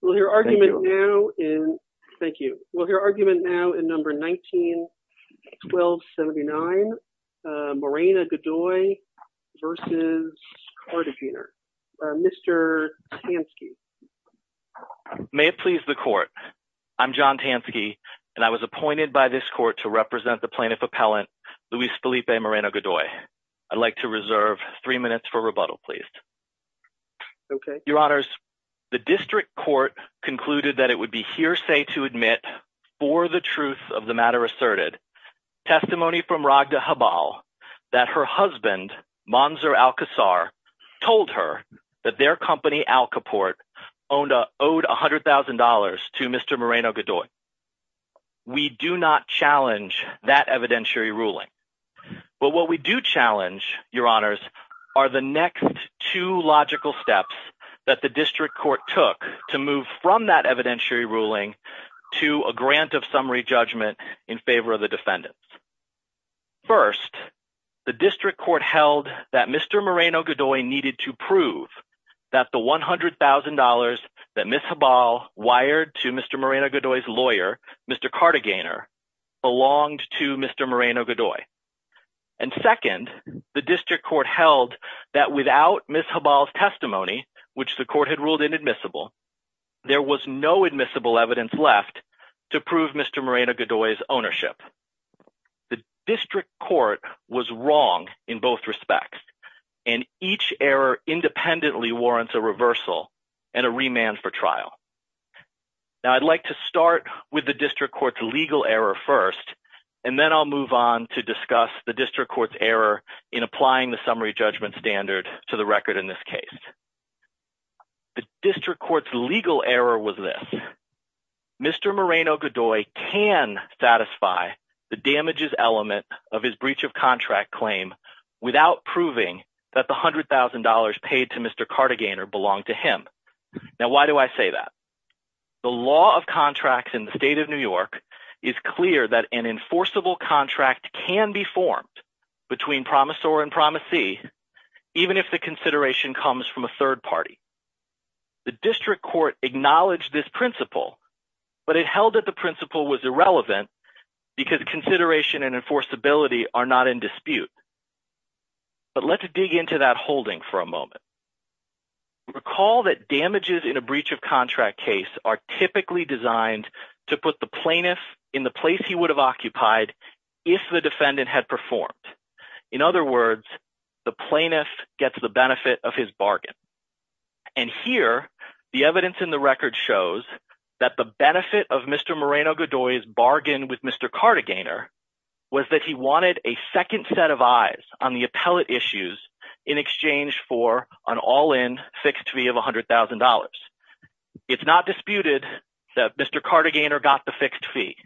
191279 Morena-Godoy v. Tansky May it please the Court, I'm John Tansky and I was appointed by this Court to represent the Plaintiff Appellant Luis Felipe Moreno-Godoy. I'd like to reserve three minutes for rebuttal, please. Your Honors, the District Court concluded that it would be hearsay to admit, for the truth of the matter asserted, testimony from Raghda Habal that her husband, Manzur Al-Qasar, told her that their company, Alcaport, owed $100,000 to Mr. Moreno-Godoy. We do not challenge that evidentiary ruling. But what we do challenge, Your Honors, are the next two logical steps that the District Court took to move from that evidentiary ruling to a grant of summary judgment in favor of the defendants. First, the District Court held that Mr. Moreno-Godoy needed to prove that the $100,000 that Ms. Habal wired to Mr. Moreno-Godoy's lawyer, Mr. Cartagainer, belonged to Mr. Moreno-Godoy. And second, the District Court held that without Ms. Habal's testimony, which the Court had ruled inadmissible, there was no admissible evidence left to prove Mr. Moreno-Godoy's ownership. The District Court was wrong in both respects, and each error independently warrants a reversal and a remand for trial. Now I'd like to start with the District Court's legal error first, and then I'll move on to discuss the District Court's error in applying the summary judgment standard to the record in this case. The District Court's legal error was this. Mr. Moreno-Godoy can satisfy the damages element of his breach of contract claim without proving that the $100,000 paid to Mr. Cartagainer belonged to him. Now why do I say that? The law of contracts in the state of New York is clear that an enforceable contract can be formed between promisor and promisee, even if the consideration comes from a third party. The District Court acknowledged this principle, but it held that the principle was irrelevant because consideration and enforceability are not in dispute. But let's dig into that holding for a moment. Recall that damages in a breach of contract case are typically designed to put the plaintiff in the place he would have occupied if the defendant had performed. In other words, the plaintiff gets the benefit of his bargain. And here, the evidence in the record shows that the benefit of Mr. Moreno-Godoy's bargain with Mr. Cartagainer was that he wanted a second set of eyes on the appellate issues in exchange for an all-in fixed fee of $100,000. It's not disputed that Mr. Cartagainer got the fixed fee,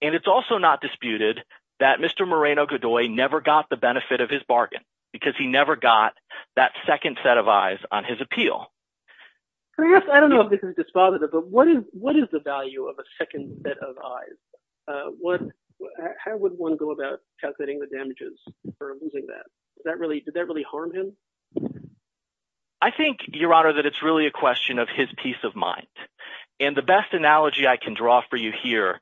and it's also not disputed that Mr. Moreno-Godoy never got the benefit of his bargain because he never got that second set of eyes on his appeal. I don't know if this is dispositive, but what is the value of a second set of eyes? How would one go about calculating the damages for losing that? Did that really harm him? I think, Your Honor, that it's really a question of his peace of mind. And the best analogy I can draw for you here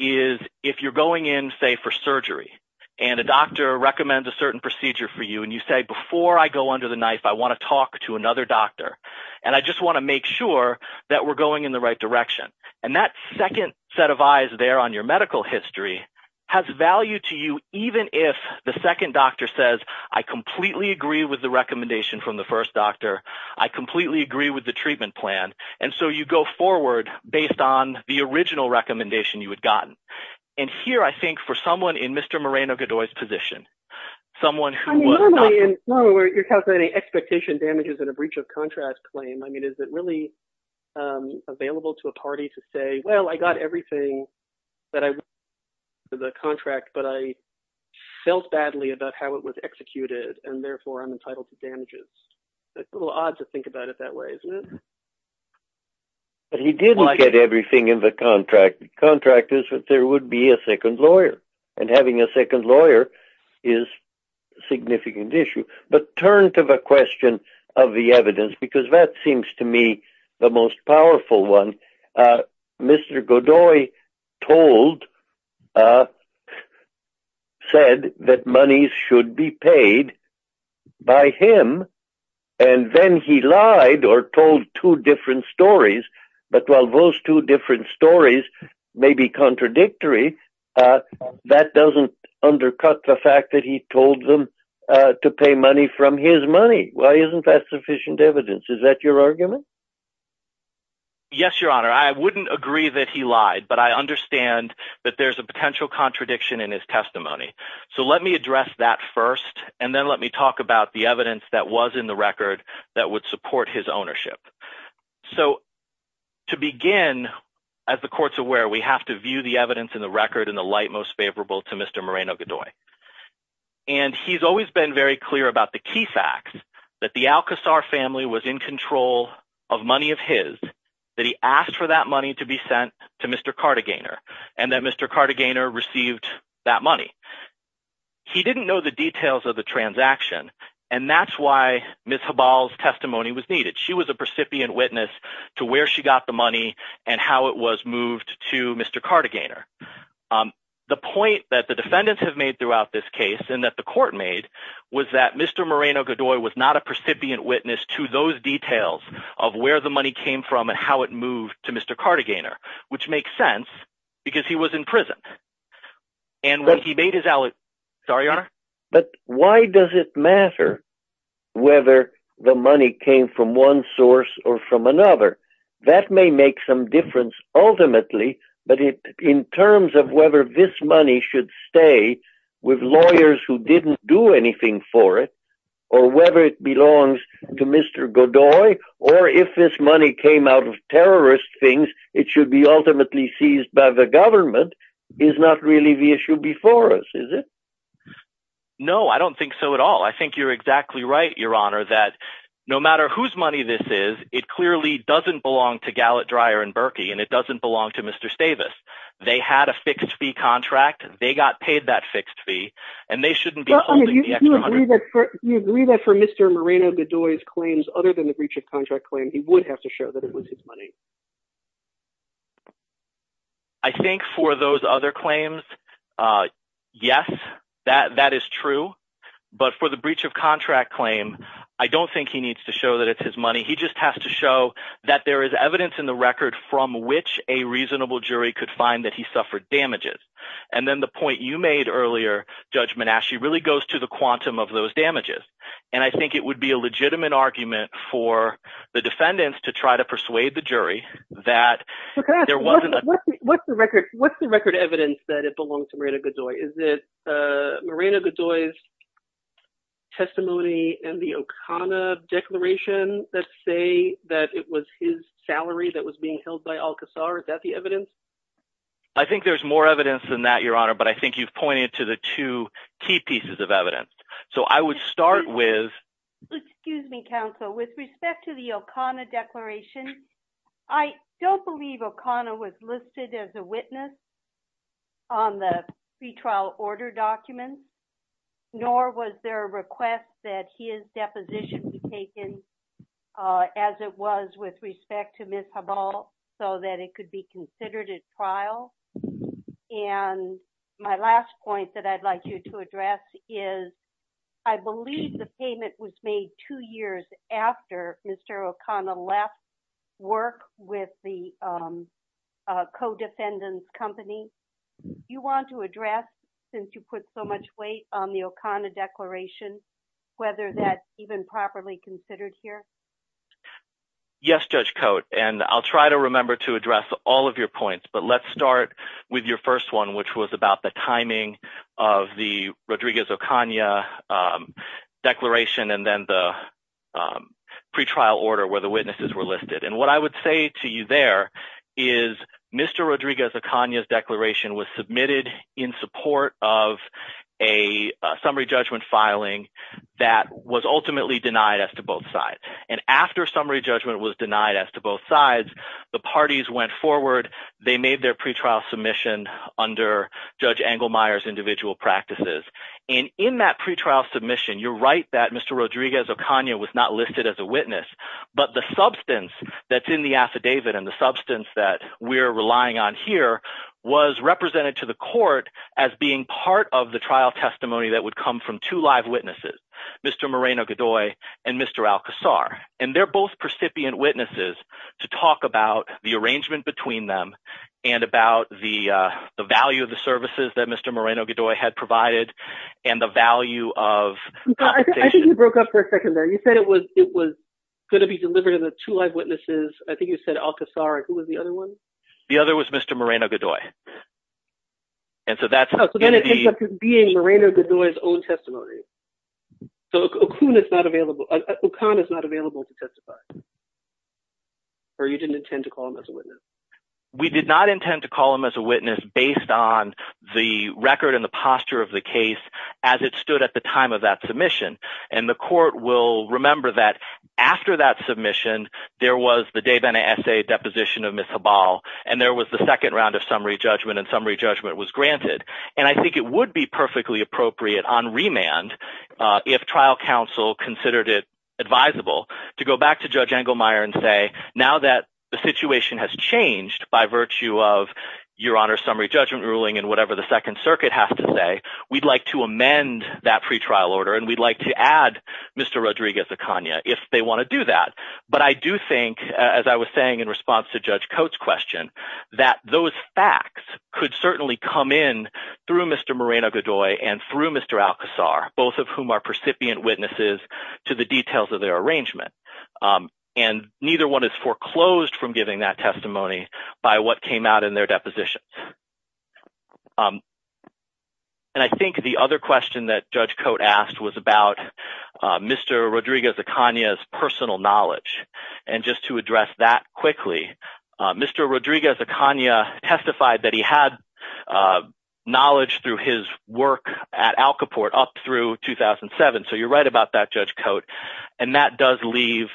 is if you're going in, say, for surgery, and a doctor recommends a certain procedure for you, and you say, before I go under the knife, I want to talk to another doctor, and I just want to make sure that we're going in the right direction. And that second set of eyes there on your medical history has value to you even if the second doctor says, I completely agree with the recommendation from the first doctor. I completely agree with the treatment plan. And so you go forward based on the original recommendation you had gotten. And here, I think, for someone in Mr. Moreno-Godoy's position, someone who was not – Normally, you're calculating expectation damages in a breach of contract claim. I mean is it really available to a party to say, well, I got everything that I wanted in the contract, but I felt badly about how it was executed, and therefore I'm entitled to damages? It's a little odd to think about it that way, isn't it? But he didn't get everything in the contract. The contract is that there would be a second lawyer, and having a second lawyer is a significant issue. But turn to the question of the evidence, because that seems to me the most powerful one. Mr. Godoy said that money should be paid by him, and then he lied or told two different stories. But while those two different stories may be contradictory, that doesn't undercut the fact that he told them to pay money from his money. Why isn't that sufficient evidence? Is that your argument? Yes, Your Honor. I wouldn't agree that he lied, but I understand that there's a potential contradiction in his testimony. So let me address that first, and then let me talk about the evidence that was in the record that would support his ownership. So to begin, as the court's aware, we have to view the evidence in the record in the light most favorable to Mr. Moreno-Godoy. And he's always been very clear about the key facts, that the Alcazar family was in control of money of his, that he asked for that money to be sent to Mr. Cartagena, and that Mr. Cartagena received that money. He didn't know the details of the transaction, and that's why Ms. Habal's testimony was needed. She was a precipient witness to where she got the money and how it was moved to Mr. Cartagena. The point that the defendants have made throughout this case and that the court made was that Mr. Moreno-Godoy was not a precipient witness to those details of where the money came from and how it moved to Mr. Cartagena, which makes sense because he was in prison. And when he made his alibi. Sorry, Your Honor. But why does it matter whether the money came from one source or from another? That may make some difference ultimately, but in terms of whether this money should stay with lawyers who didn't do anything for it, or whether it belongs to Mr. Godoy, or if this money came out of terrorist things, it should be ultimately seized by the government, is not really the issue before us, is it? No, I don't think so at all. I think you're exactly right, Your Honor, that no matter whose money this is, it clearly doesn't belong to Gallet, Dreyer, and Berkey, and it doesn't belong to Mr. Stavis. They had a fixed-fee contract. They got paid that fixed fee, and they shouldn't be holding the extra hundred. You agree that for Mr. Moreno-Godoy's claims other than the breach of contract claim, he would have to show that it was his money? I think for those other claims, yes, that is true. But for the breach of contract claim, I don't think he needs to show that it's his money. He just has to show that there is evidence in the record from which a reasonable jury could find that he suffered damages. And then the point you made earlier, Judge Menasche, really goes to the quantum of those damages. And I think it would be a legitimate argument for the defendants to try to persuade the jury that there wasn't – What's the record evidence that it belongs to Moreno-Godoy? Is it Moreno-Godoy's testimony in the Okana Declaration that say that it was his salary that was being held by Al-Qasar? Is that the evidence? I think there's more evidence than that, Your Honor, but I think you've pointed to the two key pieces of evidence. So I would start with – And my last point that I'd like you to address is I believe the payment was made two years after Mr. Okana left work with the co-defendants' company. Do you want to address, since you put so much weight on the Okana Declaration, whether that's even properly considered here? Yes, Judge Cote, and I'll try to remember to address all of your points. But let's start with your first one, which was about the timing of the Rodriguez-Okana Declaration and then the pretrial order where the witnesses were listed. And what I would say to you there is Mr. Rodriguez-Okana's declaration was submitted in support of a summary judgment filing that was ultimately denied as to both sides. And after summary judgment was denied as to both sides, the parties went forward. They made their pretrial submission under Judge Engelmeyer's individual practices. And in that pretrial submission, you're right that Mr. Rodriguez-Okana was not listed as a witness, but the substance that's in the affidavit and the substance that we're relying on here was represented to the court as being part of the trial testimony that would come from two live witnesses, Mr. Moreno-Gadoy and Mr. Alcazar. And they're both percipient witnesses to talk about the arrangement between them and about the value of the services that Mr. Moreno-Gadoy had provided and the value of compensation. I think you broke up for a second there. You said it was going to be delivered to the two live witnesses. I think you said Alcazar. Who was the other one? The other was Mr. Moreno-Gadoy. So then it ends up being Moreno-Gadoy's own testimony. So Okana is not available to testify? Or you didn't intend to call him as a witness? We did not intend to call him as a witness based on the record and the posture of the case as it stood at the time of that submission. And the court will remember that after that submission, there was the de bene essay deposition of Ms. Habal, and there was the second round of summary judgment, and summary judgment was granted. And I think it would be perfectly appropriate on remand if trial counsel considered it advisable to go back to Judge Engelmeyer and say, now that the situation has changed by virtue of your Honor's summary judgment ruling and whatever the Second Circuit has to say, we'd like to amend that pretrial order. And we'd like to add Mr. Rodriguez-Acaña if they want to do that. But I do think, as I was saying in response to Judge Coates' question, that those facts could certainly come in through Mr. Moreno-Gadoy and through Mr. Alcazar, both of whom are percipient witnesses to the details of their arrangement. And neither one is foreclosed from giving that testimony by what came out in their deposition. And I think the other question that Judge Coates asked was about Mr. Rodriguez-Acaña's personal knowledge. And just to address that quickly, Mr. Rodriguez-Acaña testified that he had knowledge through his work at Alcaport up through 2007, so you're right about that, Judge Coates. And that does leave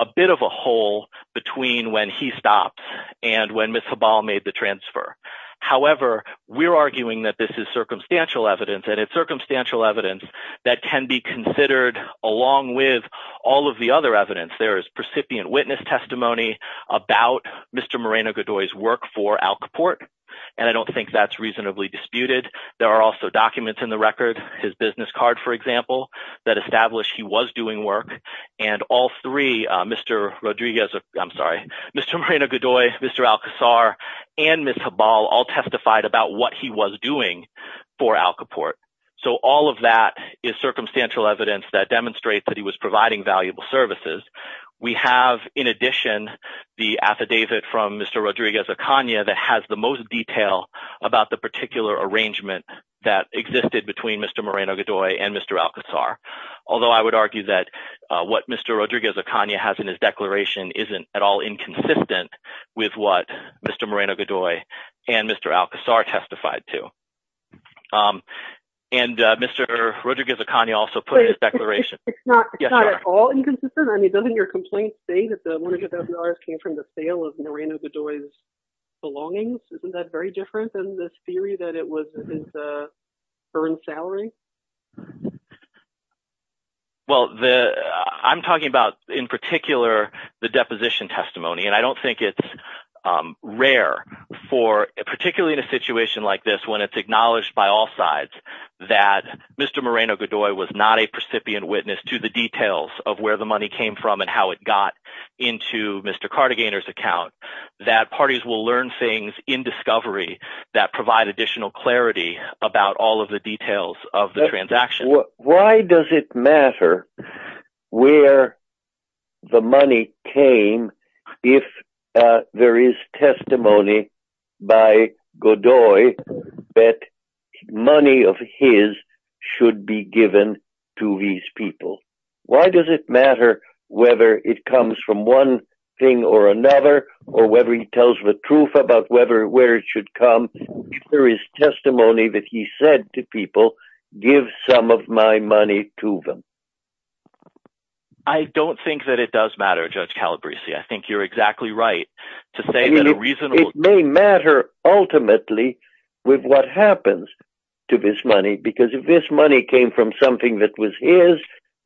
a bit of a hole between when he stopped and when Ms. Habal made the transfer. However, we're arguing that this is circumstantial evidence, and it's circumstantial evidence that can be considered along with all of the other evidence. There is percipient witness testimony about Mr. Moreno-Gadoy's work for Alcaport, and I don't think that's reasonably disputed. There are also documents in the record, his business card, for example, that establish he was doing work. And all three, Mr. Rodriguez – I'm sorry, Mr. Moreno-Gadoy, Mr. Alcazar, and Ms. Habal all testified about what he was doing for Alcaport. So all of that is circumstantial evidence that demonstrates that he was providing valuable services. We have, in addition, the affidavit from Mr. Rodriguez-Acaña that has the most detail about the particular arrangement that existed between Mr. Moreno-Gadoy and Mr. Alcazar, although I would argue that what Mr. Rodriguez-Acaña has in his declaration isn't at all inconsistent with what Mr. Moreno-Gadoy and Mr. Alcazar testified to. And Mr. Rodriguez-Acaña also put in his declaration. It's not at all inconsistent? I mean, doesn't your complaint state that the $100,000 came from the sale of Moreno-Gadoy's belongings? Isn't that very different than the theory that it was his earned salary? Well, I'm talking about in particular the deposition testimony, and I don't think it's rare for – particularly in a situation like this when it's acknowledged by all sides that Mr. Moreno-Gadoy was not a percipient witness to the details of where the money came from and how it got into Mr. Cartagena's account. That parties will learn things in discovery that provide additional clarity about all of the details of the transaction. I don't think that it does matter, Judge Calabresi. I think you're exactly right to say that a reasonable – with what happens to this money, because if this money came from something that was his,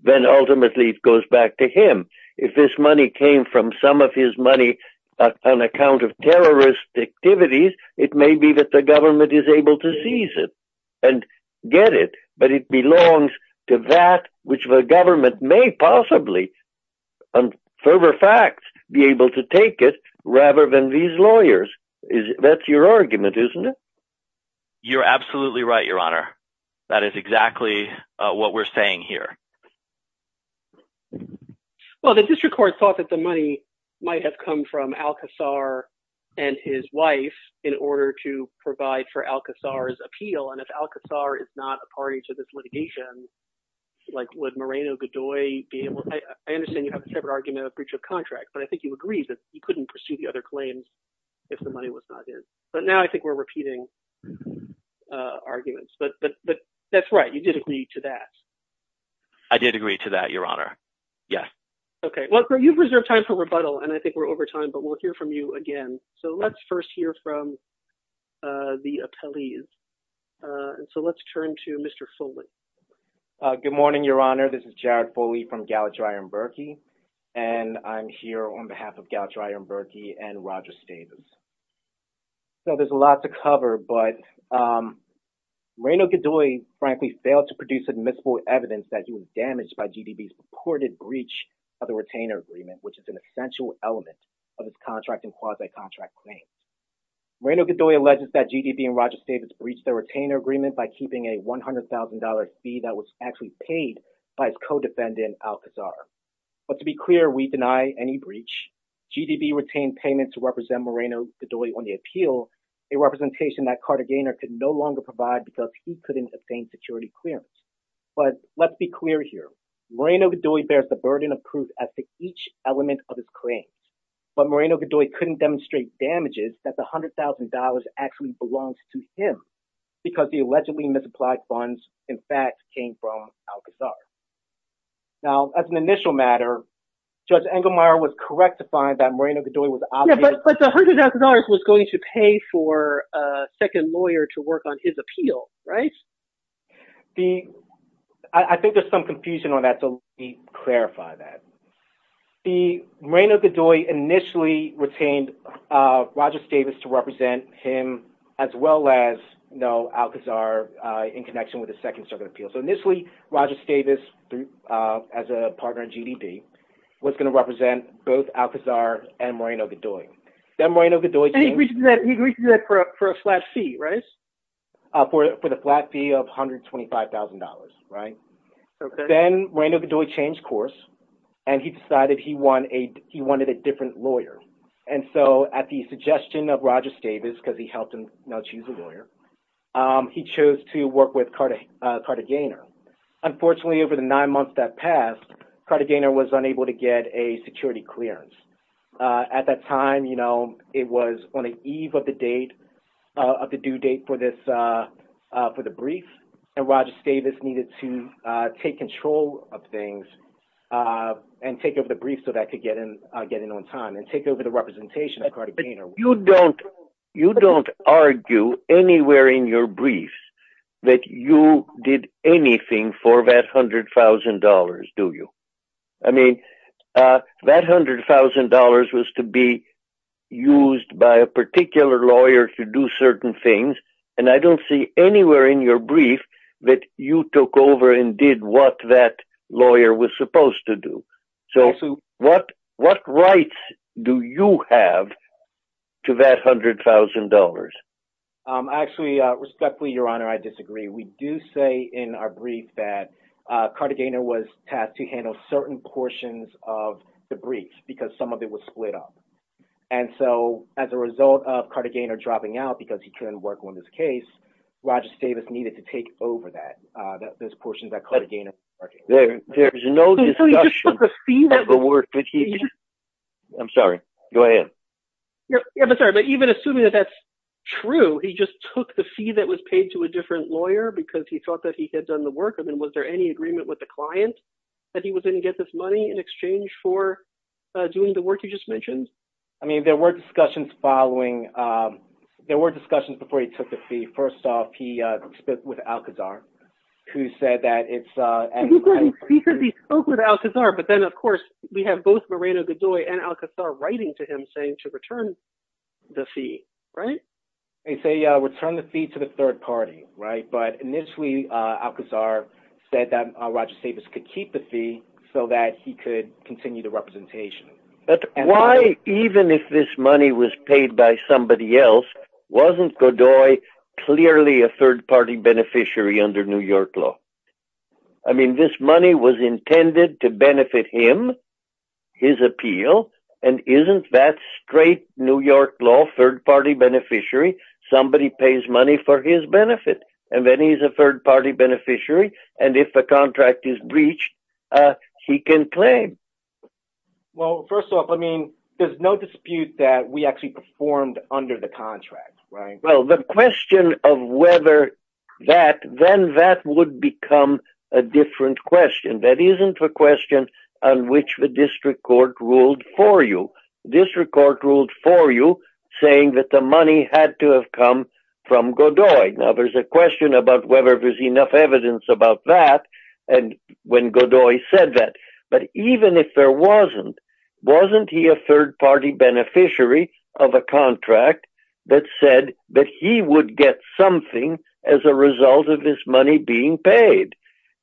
then ultimately it goes back to him. If this money came from some of his money on account of terrorist activities, it may be that the government is able to seize it and get it. But it belongs to that which the government may possibly, on fervor of fact, be able to take it rather than these lawyers. That's your argument, isn't it? You're absolutely right, Your Honor. That is exactly what we're saying here. Well, the district court thought that the money might have come from Alcazar and his wife in order to provide for Alcazar's appeal. And if Alcazar is not a party to this litigation, would Moreno-Gadoy be able – I understand you have a separate argument of breach of contract, but I think you agreed that you couldn't pursue the other claims if the money was not in. But now I think we're repeating arguments. But that's right. You did agree to that. I did agree to that, Your Honor. Yes. Okay. Well, you've reserved time for rebuttal, and I think we're over time, but we'll hear from you again. So let's first hear from the appellees. So let's turn to Mr. Foley. Good morning, Your Honor. This is Jared Foley from Gallatraer & Berkey, and I'm here on behalf of Gallatraer & Berkey and Roger Stavis. So there's a lot to cover, but Moreno-Gadoy, frankly, failed to produce admissible evidence that he was damaged by GDB's purported breach of the retainer agreement, which is an essential element of his contract and quasi-contract claims. Moreno-Gadoy alleges that GDB and Roger Stavis breached their retainer agreement by keeping a $100,000 fee that was actually paid by his co-defendant, Alcazar. But to be clear, we deny any breach. GDB retained payment to represent Moreno-Gadoy on the appeal, a representation that Carter Gaynor could no longer provide because he couldn't obtain security clearance. But let's be clear here. Moreno-Gadoy bears the burden of proof as to each element of his claims, but Moreno-Gadoy couldn't demonstrate damages that the $100,000 actually belongs to him because the allegedly misapplied funds, in fact, came from Alcazar. Now, as an initial matter, Judge Engelmeyer was correct to find that Moreno-Gadoy was obviously… Yeah, but the $100,000 was going to pay for a second lawyer to work on his appeal, right? I think there's some confusion on that, so let me clarify that. Moreno-Gadoy initially retained Roger Stavis to represent him as well as Alcazar in connection with the second circuit appeal. So initially, Roger Stavis, as a partner in GDB, was going to represent both Alcazar and Moreno-Gadoy. And he agreed to do that for a flat fee, right? For the flat fee of $125,000, right? Okay. Then Moreno-Gadoy changed course, and he decided he wanted a different lawyer. And so at the suggestion of Roger Stavis, because he helped him now choose a lawyer, he chose to work with Carter Gaynor. Unfortunately, over the nine months that passed, Carter Gaynor was unable to get a security clearance. At that time, it was on the eve of the due date for the brief, and Roger Stavis needed to take control of things and take over the brief so that he could get in on time and take over the representation of Carter Gaynor. You don't argue anywhere in your briefs that you did anything for that $100,000, do you? I mean, that $100,000 was to be used by a particular lawyer to do certain things, and I don't see anywhere in your brief that you took over and did what that lawyer was supposed to do. So what rights do you have to that $100,000? Actually, respectfully, Your Honor, I disagree. We do say in our brief that Carter Gaynor was tasked to handle certain portions of the brief, because some of it was split up. And so as a result of Carter Gaynor dropping out because he couldn't work on this case, Roger Stavis needed to take over those portions that Carter Gaynor was working on. There's no discussion of the work that he did. I'm sorry. Go ahead. I'm sorry, but even assuming that that's true, he just took the fee that was paid to a different lawyer because he thought that he had done the work? And then was there any agreement with the client that he was going to get this money in exchange for doing the work you just mentioned? I mean, there were discussions following – there were discussions before he took the fee. First off, he spoke with Alcazar, who said that it's – He said he spoke with Alcazar, but then, of course, we have both Moreno Godoy and Alcazar writing to him saying to return the fee, right? They say return the fee to the third party, right? But initially, Alcazar said that Roger Stavis could keep the fee so that he could continue the representation. But why, even if this money was paid by somebody else, wasn't Godoy clearly a third-party beneficiary under New York law? I mean, this money was intended to benefit him, his appeal, and isn't that straight New York law, third-party beneficiary? Somebody pays money for his benefit, and then he's a third-party beneficiary, and if a contract is breached, he can claim. Well, first off, I mean, there's no dispute that we actually performed under the contract, right? Well, the question of whether that – then that would become a different question. That isn't a question on which the district court ruled for you. The district court ruled for you, saying that the money had to have come from Godoy. Now, there's a question about whether there's enough evidence about that and when Godoy said that. But even if there wasn't, wasn't he a third-party beneficiary of a contract that said that he would get something as a result of his money being paid?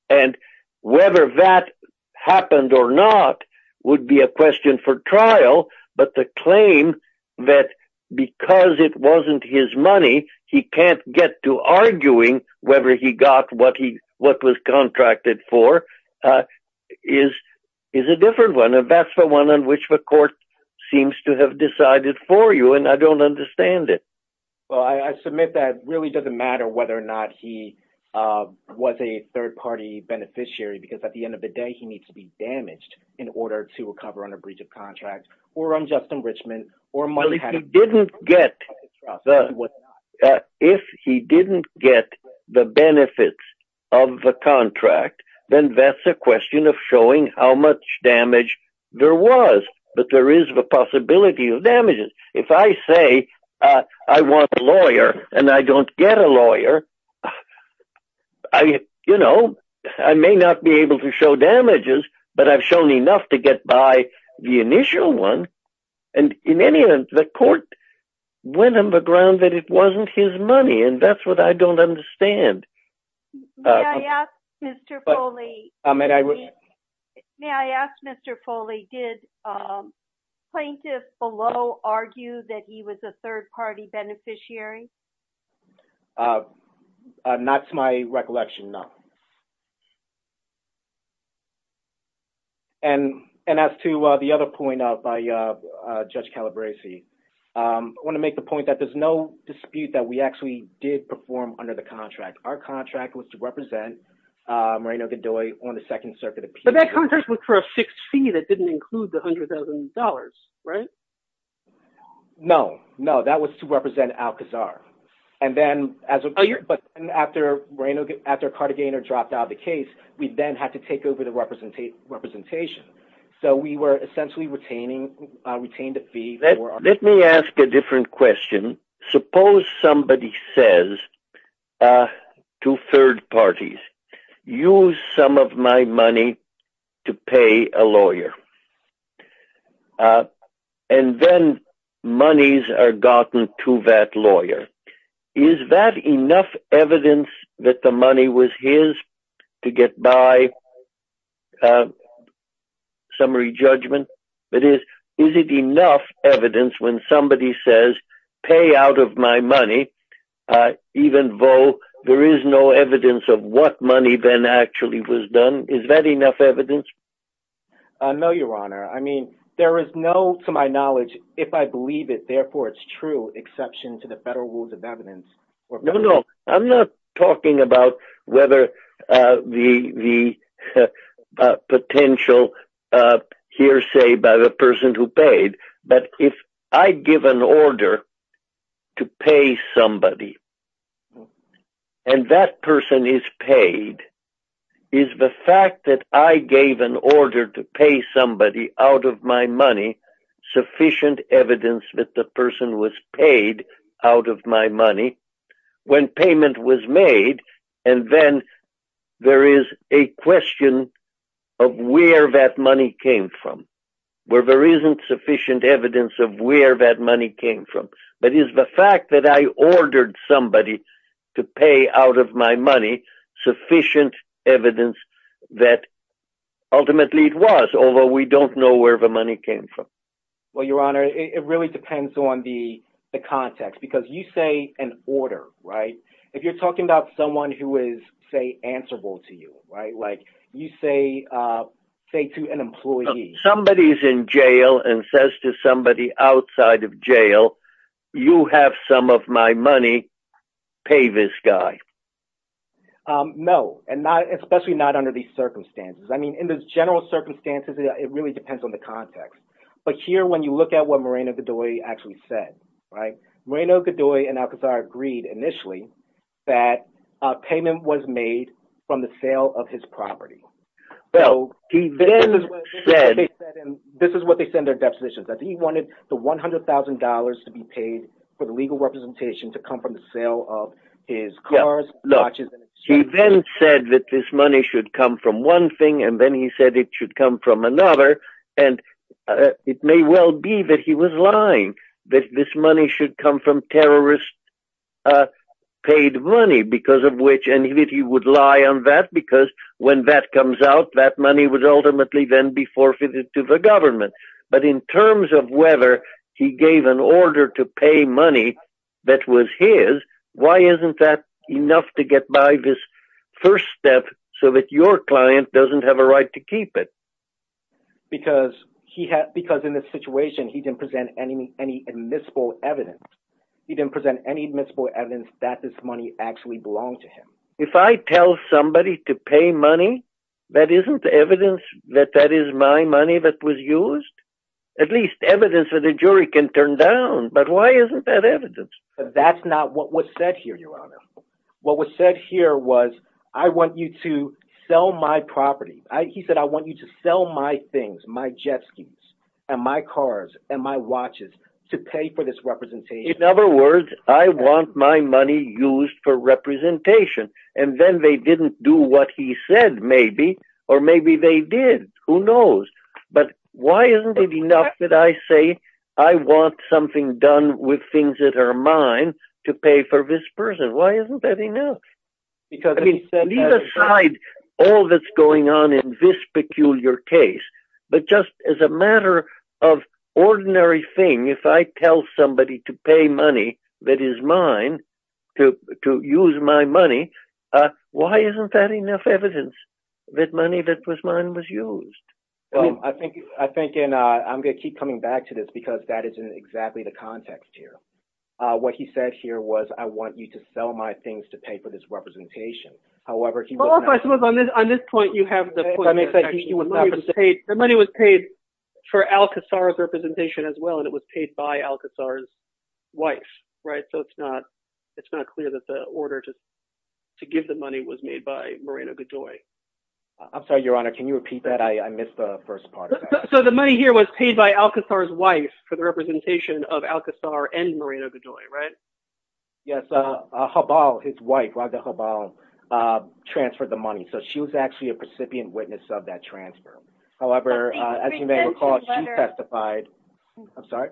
And whether that happened or not would be a question for trial, but the claim that because it wasn't his money, he can't get to arguing whether he got what was contracted for is a different one. And that's the one on which the court seems to have decided for you, and I don't understand it. Well, I submit that it really doesn't matter whether or not he was a third-party beneficiary, because at the end of the day, he needs to be damaged in order to recover under breach of contract or unjust enrichment. If he didn't get the benefits of the contract, then that's a question of showing how much damage there was. But there is the possibility of damages. If I say I want a lawyer and I don't get a lawyer, I may not be able to show damages, but I've shown enough to get by the initial one. And in any event, the court went on the ground that it wasn't his money, and that's what I don't understand. May I ask, Mr. Foley, did Plaintiff Below argue that he was a third-party beneficiary? Not to my recollection, no. And as to the other point by Judge Calabresi, I want to make the point that there's no dispute that we actually did perform under the contract. Our contract was to represent Moreno-Gadoy on the Second Circuit Appeal. But that contract was for a fixed fee that didn't include the $100,000, right? No, no, that was to represent Alcazar. But then after Cartagena dropped out of the case, we then had to take over the representation. So we were essentially retaining the fee. Let me ask a different question. Suppose somebody says to third parties, use some of my money to pay a lawyer, and then monies are gotten to that lawyer. Is that enough evidence that the money was his to get by summary judgment? That is, is it enough evidence when somebody says, pay out of my money, even though there is no evidence of what money then actually was done? Is that enough evidence? No, Your Honor. I mean, there is no, to my knowledge, if I believe it, therefore it's true, exception to the federal rules of evidence. No, no, I'm not talking about whether the potential hearsay by the person who paid, but if I give an order to pay somebody and that person is paid, is the fact that I gave an order to pay somebody out of my money sufficient evidence that the person was paid out of my money when payment was made? And then there is a question of where that money came from, where there isn't sufficient evidence of where that money came from. But is the fact that I ordered somebody to pay out of my money sufficient evidence that ultimately it was, although we don't know where the money came from? Well, Your Honor, it really depends on the context, because you say an order, right? If you're talking about someone who is, say, answerable to you, right? You say to an employee. Somebody's in jail and says to somebody outside of jail, you have some of my money, pay this guy. No, and especially not under these circumstances. I mean, in the general circumstances, it really depends on the context. But here, when you look at what Moreno-Gadoy actually said, right, Moreno-Gadoy and Alcazar agreed initially that payment was made from the sale of his property. Well, he then said… This is what they said in their depositions, that he wanted the $100,000 to be paid for the legal representation to come from the sale of his cars, watches… He then said that this money should come from one thing, and then he said it should come from another. And it may well be that he was lying, that this money should come from terrorist-paid money, because of which… When that comes out, that money would ultimately then be forfeited to the government. But in terms of whether he gave an order to pay money that was his, why isn't that enough to get by this first step so that your client doesn't have a right to keep it? Because in this situation, he didn't present any admissible evidence. He didn't present any admissible evidence that this money actually belonged to him. If I tell somebody to pay money, that isn't evidence that that is my money that was used? At least evidence for the jury can turn down, but why isn't that evidence? That's not what was said here, Your Honor. What was said here was, I want you to sell my property. He said, I want you to sell my things, my jet skis, and my cars, and my watches, to pay for this representation. In other words, I want my money used for representation. And then they didn't do what he said, maybe, or maybe they did. Who knows? But why isn't it enough that I say, I want something done with things that are mine to pay for this person? Why isn't that enough? I mean, leave aside all that's going on in this peculiar case. But just as a matter of ordinary thing, if I tell somebody to pay money that is mine, to use my money, why isn't that enough evidence that money that was mine was used? I mean, I think – and I'm going to keep coming back to this because that isn't exactly the context here. What he said here was, I want you to sell my things to pay for this representation. However, he was not – Well, I suppose on this point, you have the point that the money was paid for Alcazar's representation as well, and it was paid by Alcazar's wife, right? So it's not clear that the order to give the money was made by Moreno-Godoy. I'm sorry, Your Honor. Can you repeat that? I missed the first part of that. So the money here was paid by Alcazar's wife for the representation of Alcazar and Moreno-Godoy, right? Yes. Jabal, his wife, Radha Jabal, transferred the money. So she was actually a recipient witness of that transfer. However, as you may recall, she testified – I'm sorry?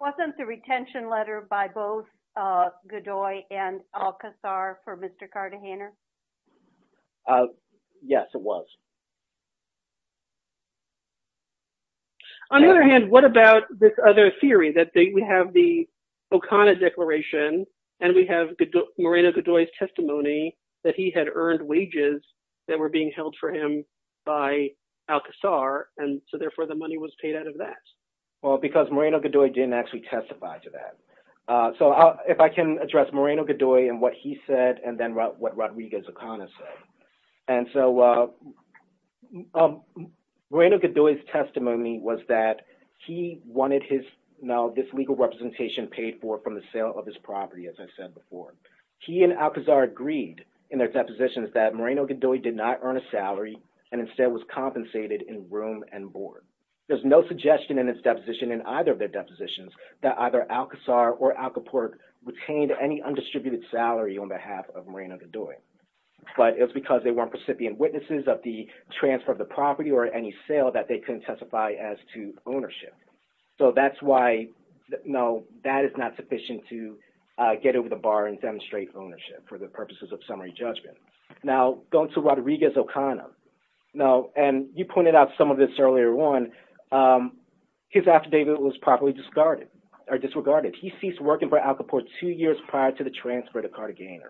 Wasn't the retention letter by both Godoy and Alcazar for Mr. Cartagena? Yes, it was. On the other hand, what about this other theory that we have the O'Connor Declaration, and we have Moreno-Godoy's testimony that he had earned wages that were being held for him by Alcazar, and so therefore the money was paid out of that? Well, because Moreno-Godoy didn't actually testify to that. So if I can address Moreno-Godoy and what he said and then what Rodriguez O'Connor said. And so Moreno-Godoy's testimony was that he wanted this legal representation paid for from the sale of his property, as I said before. He and Alcazar agreed in their depositions that Moreno-Godoy did not earn a salary and instead was compensated in room and board. There's no suggestion in his deposition, in either of their depositions, that either Alcazar or Alcaport retained any undistributed salary on behalf of Moreno-Godoy. But it was because they weren't recipient witnesses of the transfer of the property or any sale that they couldn't testify as to ownership. So that's why, no, that is not sufficient to get over the bar and demonstrate ownership for the purposes of summary judgment. Now, going to Rodriguez O'Connor, and you pointed out some of this earlier on, his affidavit was properly disregarded. He ceased working for Alcaport two years prior to the transfer to Cartagena.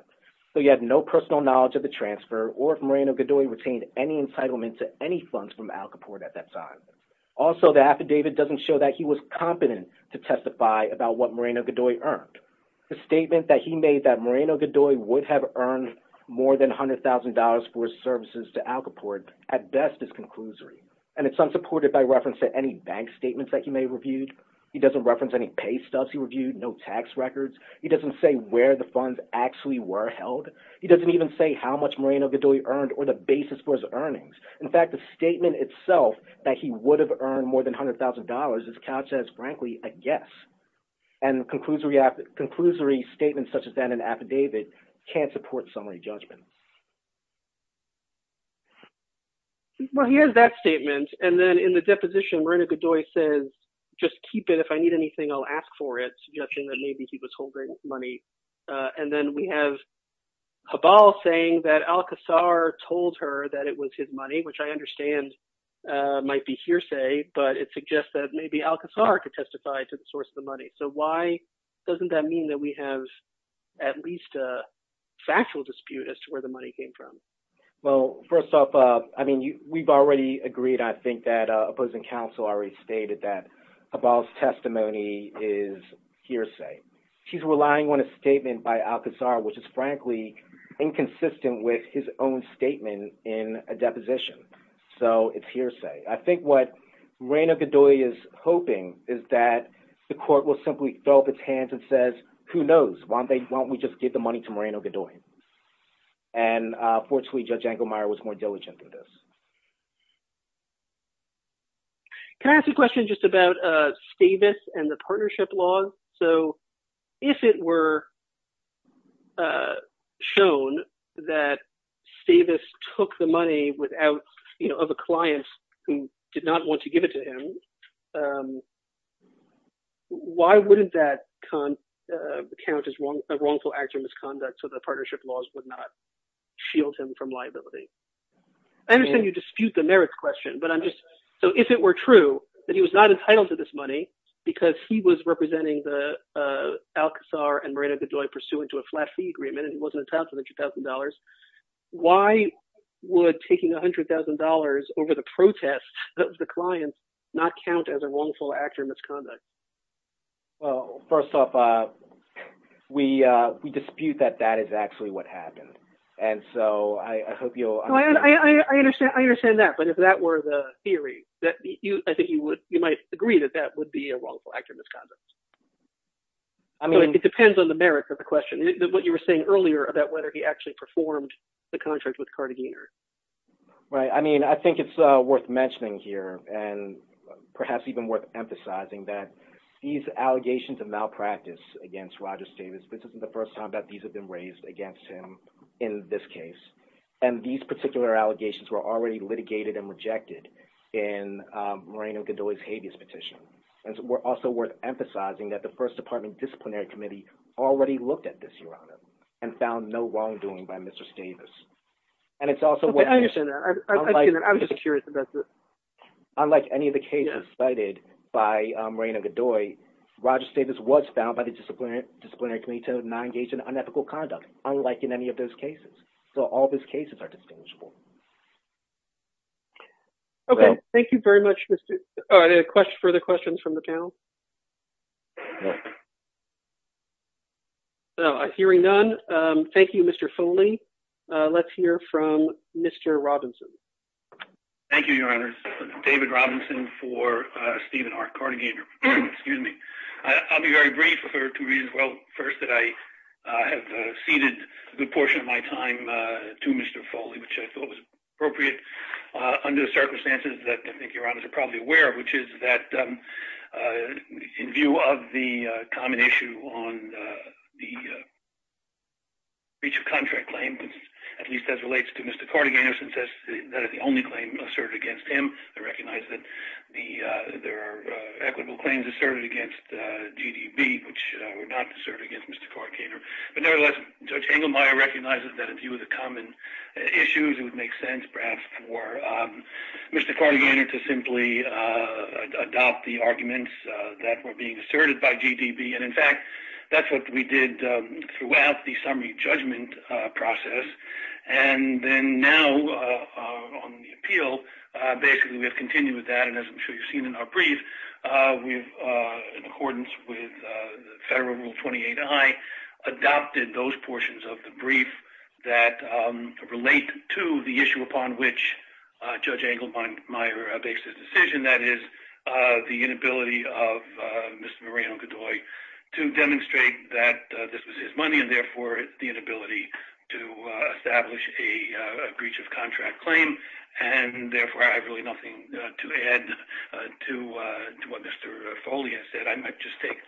So he had no personal knowledge of the transfer or if Moreno-Godoy retained any entitlement to any funds from Alcaport at that time. Also, the affidavit doesn't show that he was competent to testify about what Moreno-Godoy earned. The statement that he made that Moreno-Godoy would have earned more than $100,000 for his services to Alcaport at best is conclusory. And it's unsupported by reference to any bank statements that he may have reviewed. He doesn't reference any pay stuffs he reviewed, no tax records. He doesn't say where the funds actually were held. He doesn't even say how much Moreno-Godoy earned or the basis for his earnings. In fact, the statement itself that he would have earned more than $100,000 is couched as, frankly, a guess. And conclusory statements such as that in an affidavit can't support summary judgment. Well, here's that statement. And then in the deposition, Moreno-Godoy says, just keep it. If I need anything, I'll ask for it, judging that maybe he was holding money. And then we have Habal saying that Alcazar told her that it was his money, which I understand might be hearsay. But it suggests that maybe Alcazar could testify to the source of the money. So why doesn't that mean that we have at least a factual dispute as to where the money came from? Well, first off, I mean, we've already agreed, I think, that opposing counsel already stated that Habal's testimony is hearsay. She's relying on a statement by Alcazar, which is, frankly, inconsistent with his own statement in a deposition. So it's hearsay. I think what Moreno-Godoy is hoping is that the court will simply throw up its hands and says, who knows? Why don't we just give the money to Moreno-Godoy? And fortunately, Judge Engelmeyer was more diligent than this. Can I ask a question just about Stavis and the partnership law? So if it were shown that Stavis took the money without – of a client who did not want to give it to him, why wouldn't that count as a wrongful act or misconduct so the partnership laws would not shield him from liability? I understand you dispute the merits question, but I'm just – so if it were true that he was not entitled to this money because he was representing Alcazar and Moreno-Godoy pursuant to a flat fee agreement and he wasn't entitled to the $200,000, why would taking $100,000 over the protest of the client not count as a wrongful act or misconduct? Well, first off, we dispute that that is actually what happened, and so I hope you'll – I understand that, but if that were the theory, I think you might agree that that would be a wrongful act or misconduct. I mean – It depends on the merits of the question, what you were saying earlier about whether he actually performed the contract with Cardiganers. Right. I mean, I think it's worth mentioning here and perhaps even worth emphasizing that these allegations of malpractice against Roger Stavis, this isn't the first time that these have been raised against him in this case, and these particular allegations were already litigated and rejected in Moreno-Godoy's habeas petition. And it's also worth emphasizing that the First Department Disciplinary Committee already looked at this, Your Honor, and found no wrongdoing by Mr. Stavis. I understand that. I'm just curious about this. Unlike any of the cases cited by Moreno-Godoy, Roger Stavis was found by the Disciplinary Committee to have not engaged in unethical conduct, unlike in any of those cases. So all those cases are distinguishable. Okay. Thank you very much. Are there further questions from the panel? No. Hearing none, thank you, Mr. Foley. Let's hear from Mr. Robinson. Thank you, Your Honor. This is David Robinson for Stephen R. Cardiganer. Excuse me. I'll be very brief for two reasons. Well, first, that I have ceded a good portion of my time to Mr. Foley, which I thought was appropriate under the circumstances that I think Your Honors are probably aware of, which is that in view of the common issue on the breach of contract claim, at least as relates to Mr. Cardiganer, since that is the only claim asserted against him, I recognize that there are equitable claims asserted against GDB, which were not asserted against Mr. Cardiganer. But nevertheless, Judge Engelmeyer recognizes that in view of the common issues, it would make sense perhaps for Mr. Cardiganer to simply adopt the arguments that were being asserted by GDB. And in fact, that's what we did throughout the summary judgment process. And then now on the appeal, basically we have continued with that, and as I'm sure you've seen in our brief, in accordance with Federal Rule 28-I, adopted those portions of the brief that relate to the issue upon which Judge Engelmeyer makes his decision, that is, the inability of Mr. Moreno-Godoy to demonstrate that this was his money, and therefore the inability to establish a breach of contract claim. And therefore, I have really nothing to add to what Mr. Foley has said. I might just take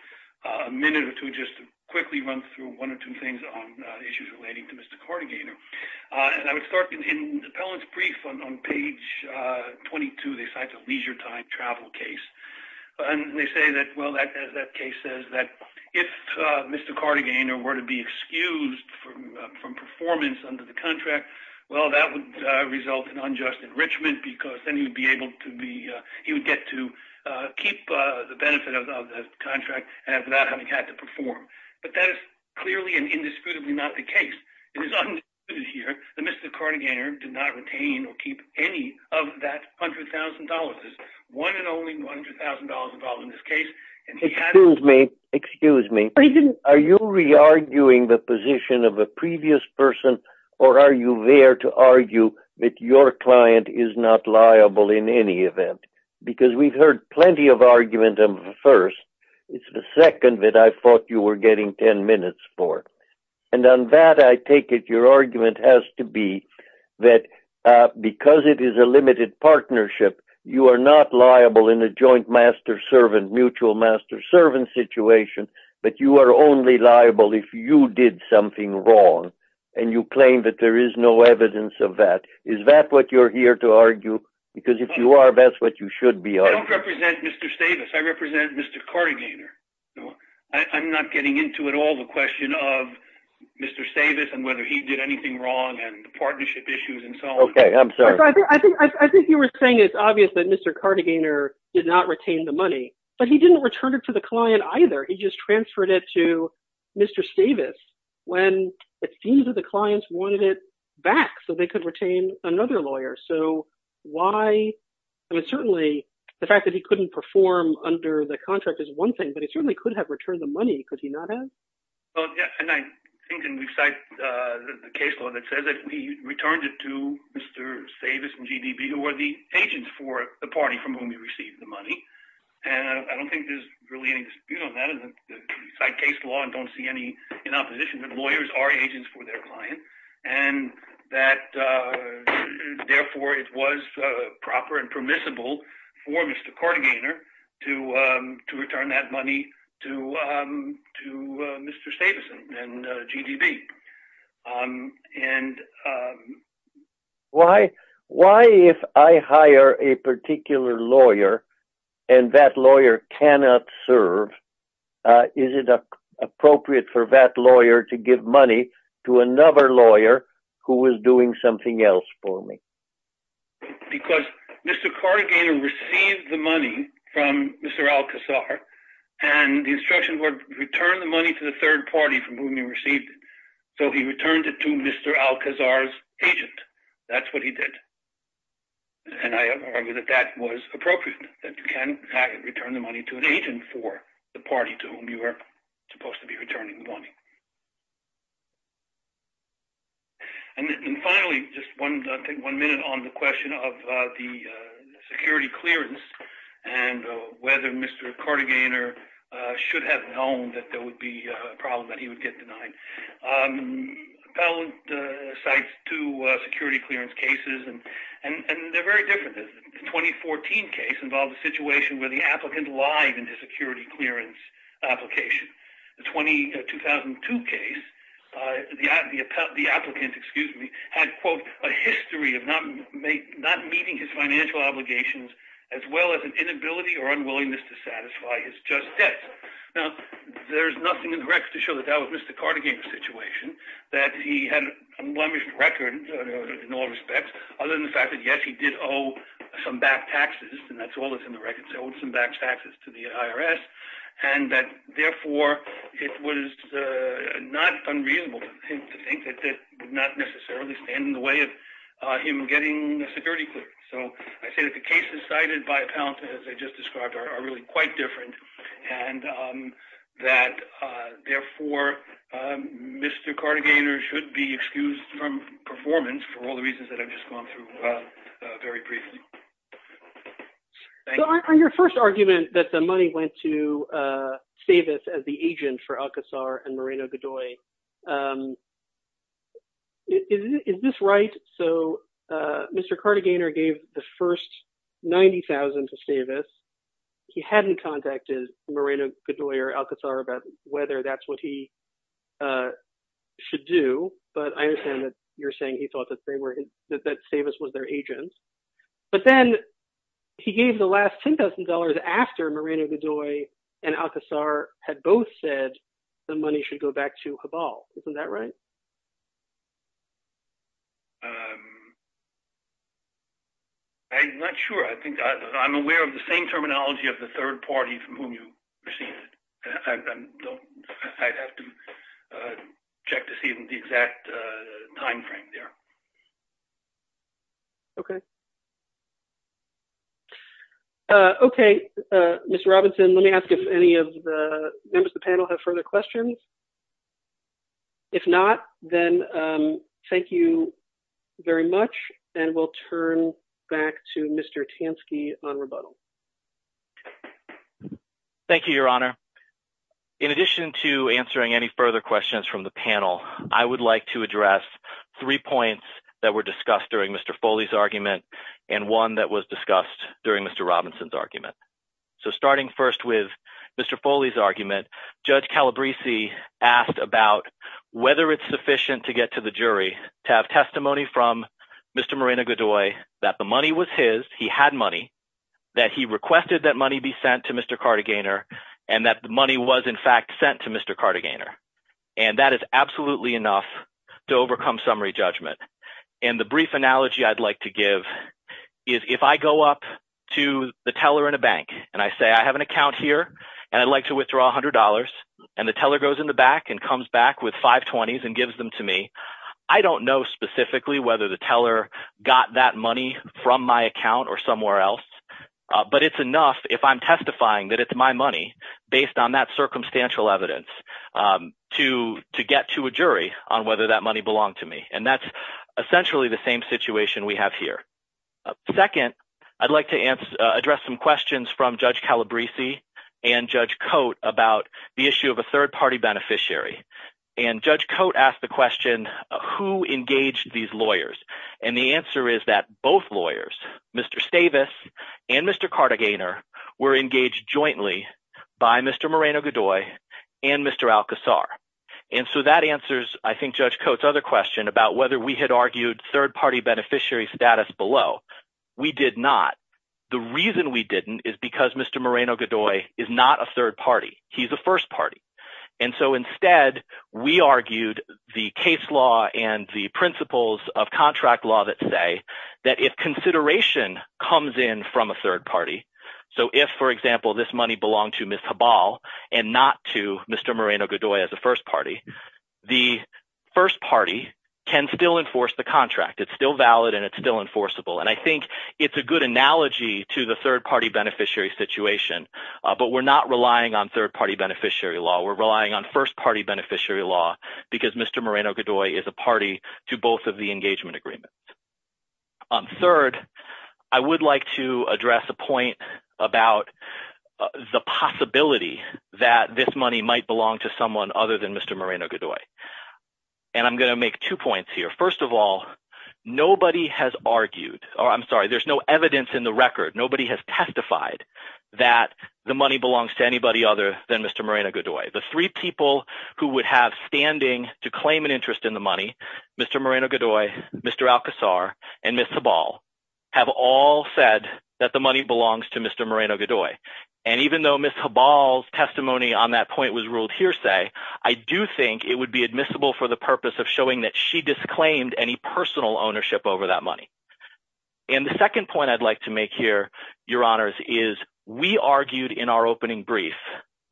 a minute or two just to quickly run through one or two things on issues relating to Mr. Cardiganer. And I would start in the appellant's brief on page 22. They cite a leisure time travel case. And they say that, well, as that case says, that if Mr. Cardiganer were to be excused from performance under the contract, well, that would result in unjust enrichment, because then he would get to keep the benefit of the contract without having had to perform. But that is clearly and indisputably not the case. It is undisputed here that Mr. Cardiganer did not retain or keep any of that $100,000. There's one and only $100,000 involved in this case. Excuse me. Are you re-arguing the position of a previous person, or are you there to argue that your client is not liable in any event? Because we've heard plenty of argument on the first. It's the second that I thought you were getting 10 minutes for. And on that, I take it your argument has to be that because it is a limited partnership, you are not liable in a joint master-servant, mutual master-servant situation, but you are only liable if you did something wrong, and you claim that there is no evidence of that. Is that what you're here to argue? Because if you are, that's what you should be arguing. I don't represent Mr. Stavis. I represent Mr. Cardiganer. I'm not getting into at all the question of Mr. Stavis and whether he did anything wrong and the partnership issues and so on. I think you were saying it's obvious that Mr. Cardiganer did not retain the money, but he didn't return it to the client either. He just transferred it to Mr. Stavis when it seems that the clients wanted it back so they could retain another lawyer. So why – I mean, certainly the fact that he couldn't perform under the contract is one thing, but he certainly could have returned the money, could he not have? Well, yeah, and I think – and we cite the case law that says that he returned it to Mr. Stavis and GDB, who are the agents for the party from whom he received the money. And I don't think there's really any dispute on that. We cite case law and don't see any in opposition that lawyers are agents for their clients and that, therefore, it was proper and permissible for Mr. Cardiganer to return that money to Mr. Stavis and GDB. And why if I hire a particular lawyer and that lawyer cannot serve, is it appropriate for that lawyer to give money to another lawyer who is doing something else for me? Because Mr. Cardiganer received the money from Mr. Alcazar and the instructions were, return the money to the third party from whom you received it. So he returned it to Mr. Alcazar's agent. That's what he did. And I argue that that was appropriate, that you can return the money to an agent for the party to whom you were supposed to be returning the money. And finally, just one minute on the question of the security clearance and whether Mr. Cardiganer should have known that there would be a problem that he would get denied. Appellant cites two security clearance cases and they're very different. The 2014 case involved a situation where the applicant lied in his security clearance application. The 2002 case, the applicant had, quote, a history of not meeting his financial obligations as well as an inability or unwillingness to satisfy his just debts. Now, there's nothing in the records to show that that was Mr. Cardiganer's situation, that he had an unblemished record in all respects, other than the fact that, yes, he did owe some back taxes. And that's all that's in the records, owed some back taxes to the IRS. And that, therefore, it was not unreasonable for him to think that that would not necessarily stand in the way of him getting a security clearance. So I say that the cases cited by Appellant, as I just described, are really quite different and that, therefore, Mr. Cardiganer should be excused from performance for all the reasons that I've just gone through very briefly. So on your first argument that the money went to Stavis as the agent for Alcazar and Moreno-Godoy, is this right? So Mr. Cardiganer gave the first $90,000 to Stavis. He hadn't contacted Moreno-Godoy or Alcazar about whether that's what he should do. But I understand that you're saying he thought that Stavis was their agent. But then he gave the last $10,000 after Moreno-Godoy and Alcazar had both said the money should go back to Habal. Isn't that right? I'm not sure. I think I'm aware of the same terminology of the third party from whom you received it. I'd have to check to see the exact timeframe there. Okay. Okay, Mr. Robinson, let me ask if any of the members of the panel have further questions. If not, then thank you very much, and we'll turn back to Mr. Tansky on rebuttal. Thank you, Your Honor. In addition to answering any further questions from the panel, I would like to address three points that were discussed during Mr. Foley's argument and one that was discussed during Mr. Robinson's argument. So starting first with Mr. Foley's argument, Judge Calabresi asked about whether it's sufficient to get to the jury to have testimony from Mr. Moreno-Godoy that the money was his. He had money, that he requested that money be sent to Mr. Cartagena, and that the money was in fact sent to Mr. Cartagena. And that is absolutely enough to overcome summary judgment. And the brief analogy I'd like to give is if I go up to the teller in a bank and I say I have an account here and I'd like to withdraw $100, and the teller goes in the back and comes back with $520s and gives them to me, I don't know specifically whether the teller got that money from my account or somewhere else. But it's enough if I'm testifying that it's my money based on that circumstantial evidence to get to a jury on whether that money belonged to me. And that's essentially the same situation we have here. Second, I'd like to address some questions from Judge Calabresi and Judge Cote about the issue of a third-party beneficiary. And Judge Cote asked the question, who engaged these lawyers? And the answer is that both lawyers, Mr. Stavis and Mr. Cartagena, were engaged jointly by Mr. Moreno-Godoy and Mr. Alcazar. And so that answers, I think, Judge Cote's other question about whether we had argued third-party beneficiary status below. We did not. The reason we didn't is because Mr. Moreno-Godoy is not a third party. He's a first party. And so instead, we argued the case law and the principles of contract law that say that if consideration comes in from a third party, so if, for example, this money belonged to Ms. Habal and not to Mr. Moreno-Godoy as a first party, the first party can still enforce the contract. It's still valid and it's still enforceable. And I think it's a good analogy to the third-party beneficiary situation, but we're not relying on third-party beneficiary law. We're relying on first-party beneficiary law because Mr. Moreno-Godoy is a party to both of the engagement agreements. Third, I would like to address a point about the possibility that this money might belong to someone other than Mr. Moreno-Godoy. And I'm going to make two points here. First of all, nobody has argued – or I'm sorry, there's no evidence in the record. Nobody has testified that the money belongs to anybody other than Mr. Moreno-Godoy. The three people who would have standing to claim an interest in the money, Mr. Moreno-Godoy, Mr. Alcazar, and Ms. Habal have all said that the money belongs to Mr. Moreno-Godoy. And even though Ms. Habal's testimony on that point was ruled hearsay, I do think it would be admissible for the purpose of showing that she disclaimed any personal ownership over that money. And the second point I'd like to make here, Your Honors, is we argued in our opening brief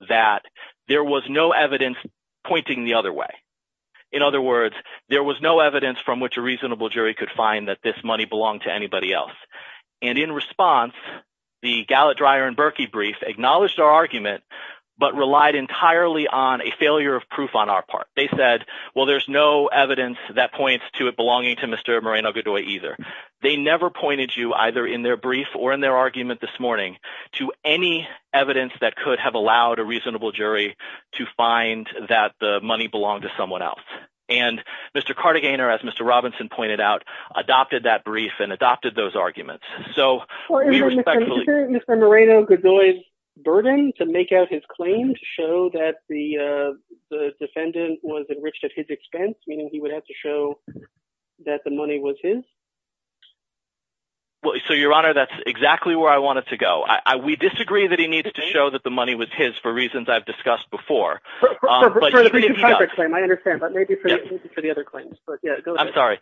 that there was no evidence pointing the other way. In other words, there was no evidence from which a reasonable jury could find that this money belonged to anybody else. And in response, the Gallat, Dreyer, and Berkey brief acknowledged our argument but relied entirely on a failure of proof on our part. They said, well, there's no evidence that points to it belonging to Mr. Moreno-Godoy either. They never pointed you either in their brief or in their argument this morning to any evidence that could have allowed a reasonable jury to find that the money belonged to someone else. And Mr. Cartagena, as Mr. Robinson pointed out, adopted that brief and adopted those arguments. So we respectfully – Or is it Mr. Moreno-Godoy's burden to make out his claim to show that the defendant was enriched at his expense, meaning he would have to show that the money was his? So, Your Honor, that's exactly where I want it to go. We disagree that he needs to show that the money was his for reasons I've discussed before. I understand, but maybe for the other claims. I'm sorry.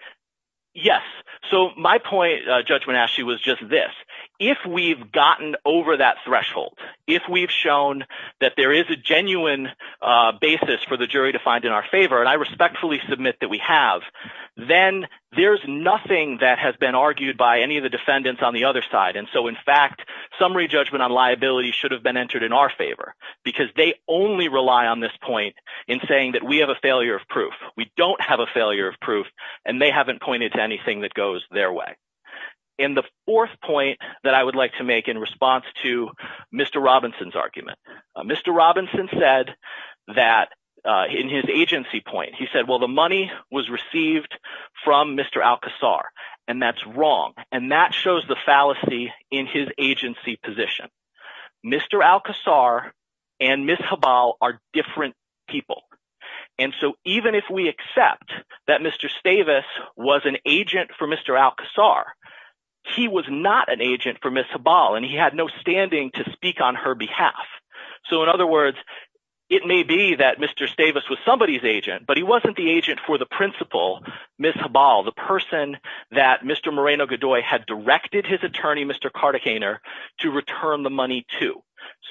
Yes. So my point, Judge Monashi, was just this. If we've gotten over that threshold, if we've shown that there is a genuine basis for the jury to find in our favor, and I respectfully submit that we have, then there's nothing that has been argued by any of the defendants on the other side. And so, in fact, summary judgment on liability should have been entered in our favor because they only rely on this point in saying that we have a failure of proof. We don't have a failure of proof, and they haven't pointed to anything that goes their way. And the fourth point that I would like to make in response to Mr. Robinson's argument, Mr. Robinson said that in his agency point, he said, well, the money was received from Mr. Alcazar, and that's wrong. And that shows the fallacy in his agency position. Mr. Alcazar and Ms. Habal are different people. And so even if we accept that Mr. Stavis was an agent for Mr. Alcazar, he was not an agent for Ms. Habal, and he had no standing to speak on her behalf. So, in other words, it may be that Mr. Stavis was somebody's agent, but he wasn't the agent for the principal, Ms. Habal, the person that Mr. Moreno-Gadoy had directed his attorney, Mr. Karthikeyaner, to return the money to.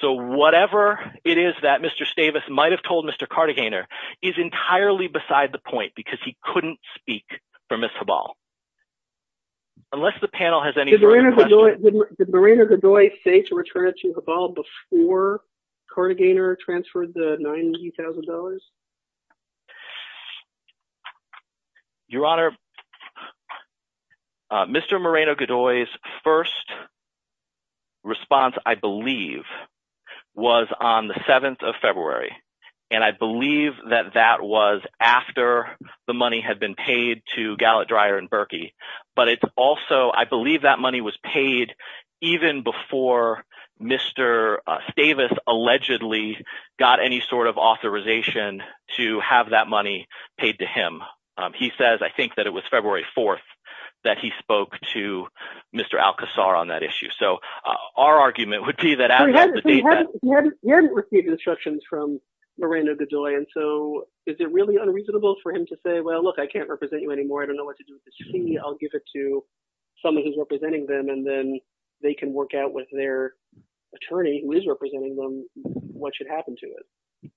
So whatever it is that Mr. Stavis might have told Mr. Karthikeyaner is entirely beside the point because he couldn't speak for Ms. Habal. Unless the panel has any further questions. Did Moreno-Gadoy say to return it to Habal before Karthikeyaner transferred the $90,000? Your Honor, Mr. Moreno-Gadoy's first response, I believe, was on the 7th of February. And I believe that that was after the money had been paid to Gallant, Dreyer, and Berkey. But it's also – I believe that money was paid even before Mr. Stavis allegedly got any sort of authorization to have that money paid to him. He says, I think, that it was February 4th that he spoke to Mr. Alcazar on that issue. He hadn't received instructions from Moreno-Gadoy. And so is it really unreasonable for him to say, well, look, I can't represent you anymore. I don't know what to do with this fee. I'll give it to someone who's representing them. And then they can work out with their attorney who is representing them what should happen to it.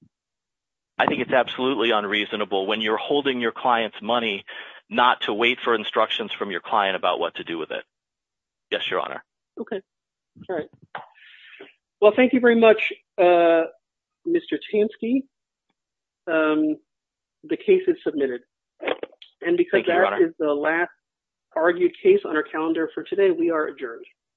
I think it's absolutely unreasonable when you're holding your client's money not to wait for instructions from your client about what to do with it. Yes, Your Honor. Okay. All right. Well, thank you very much, Mr. Tansky. Thank you, Your Honor. And because that is the last argued case on our calendar for today, we are adjourned.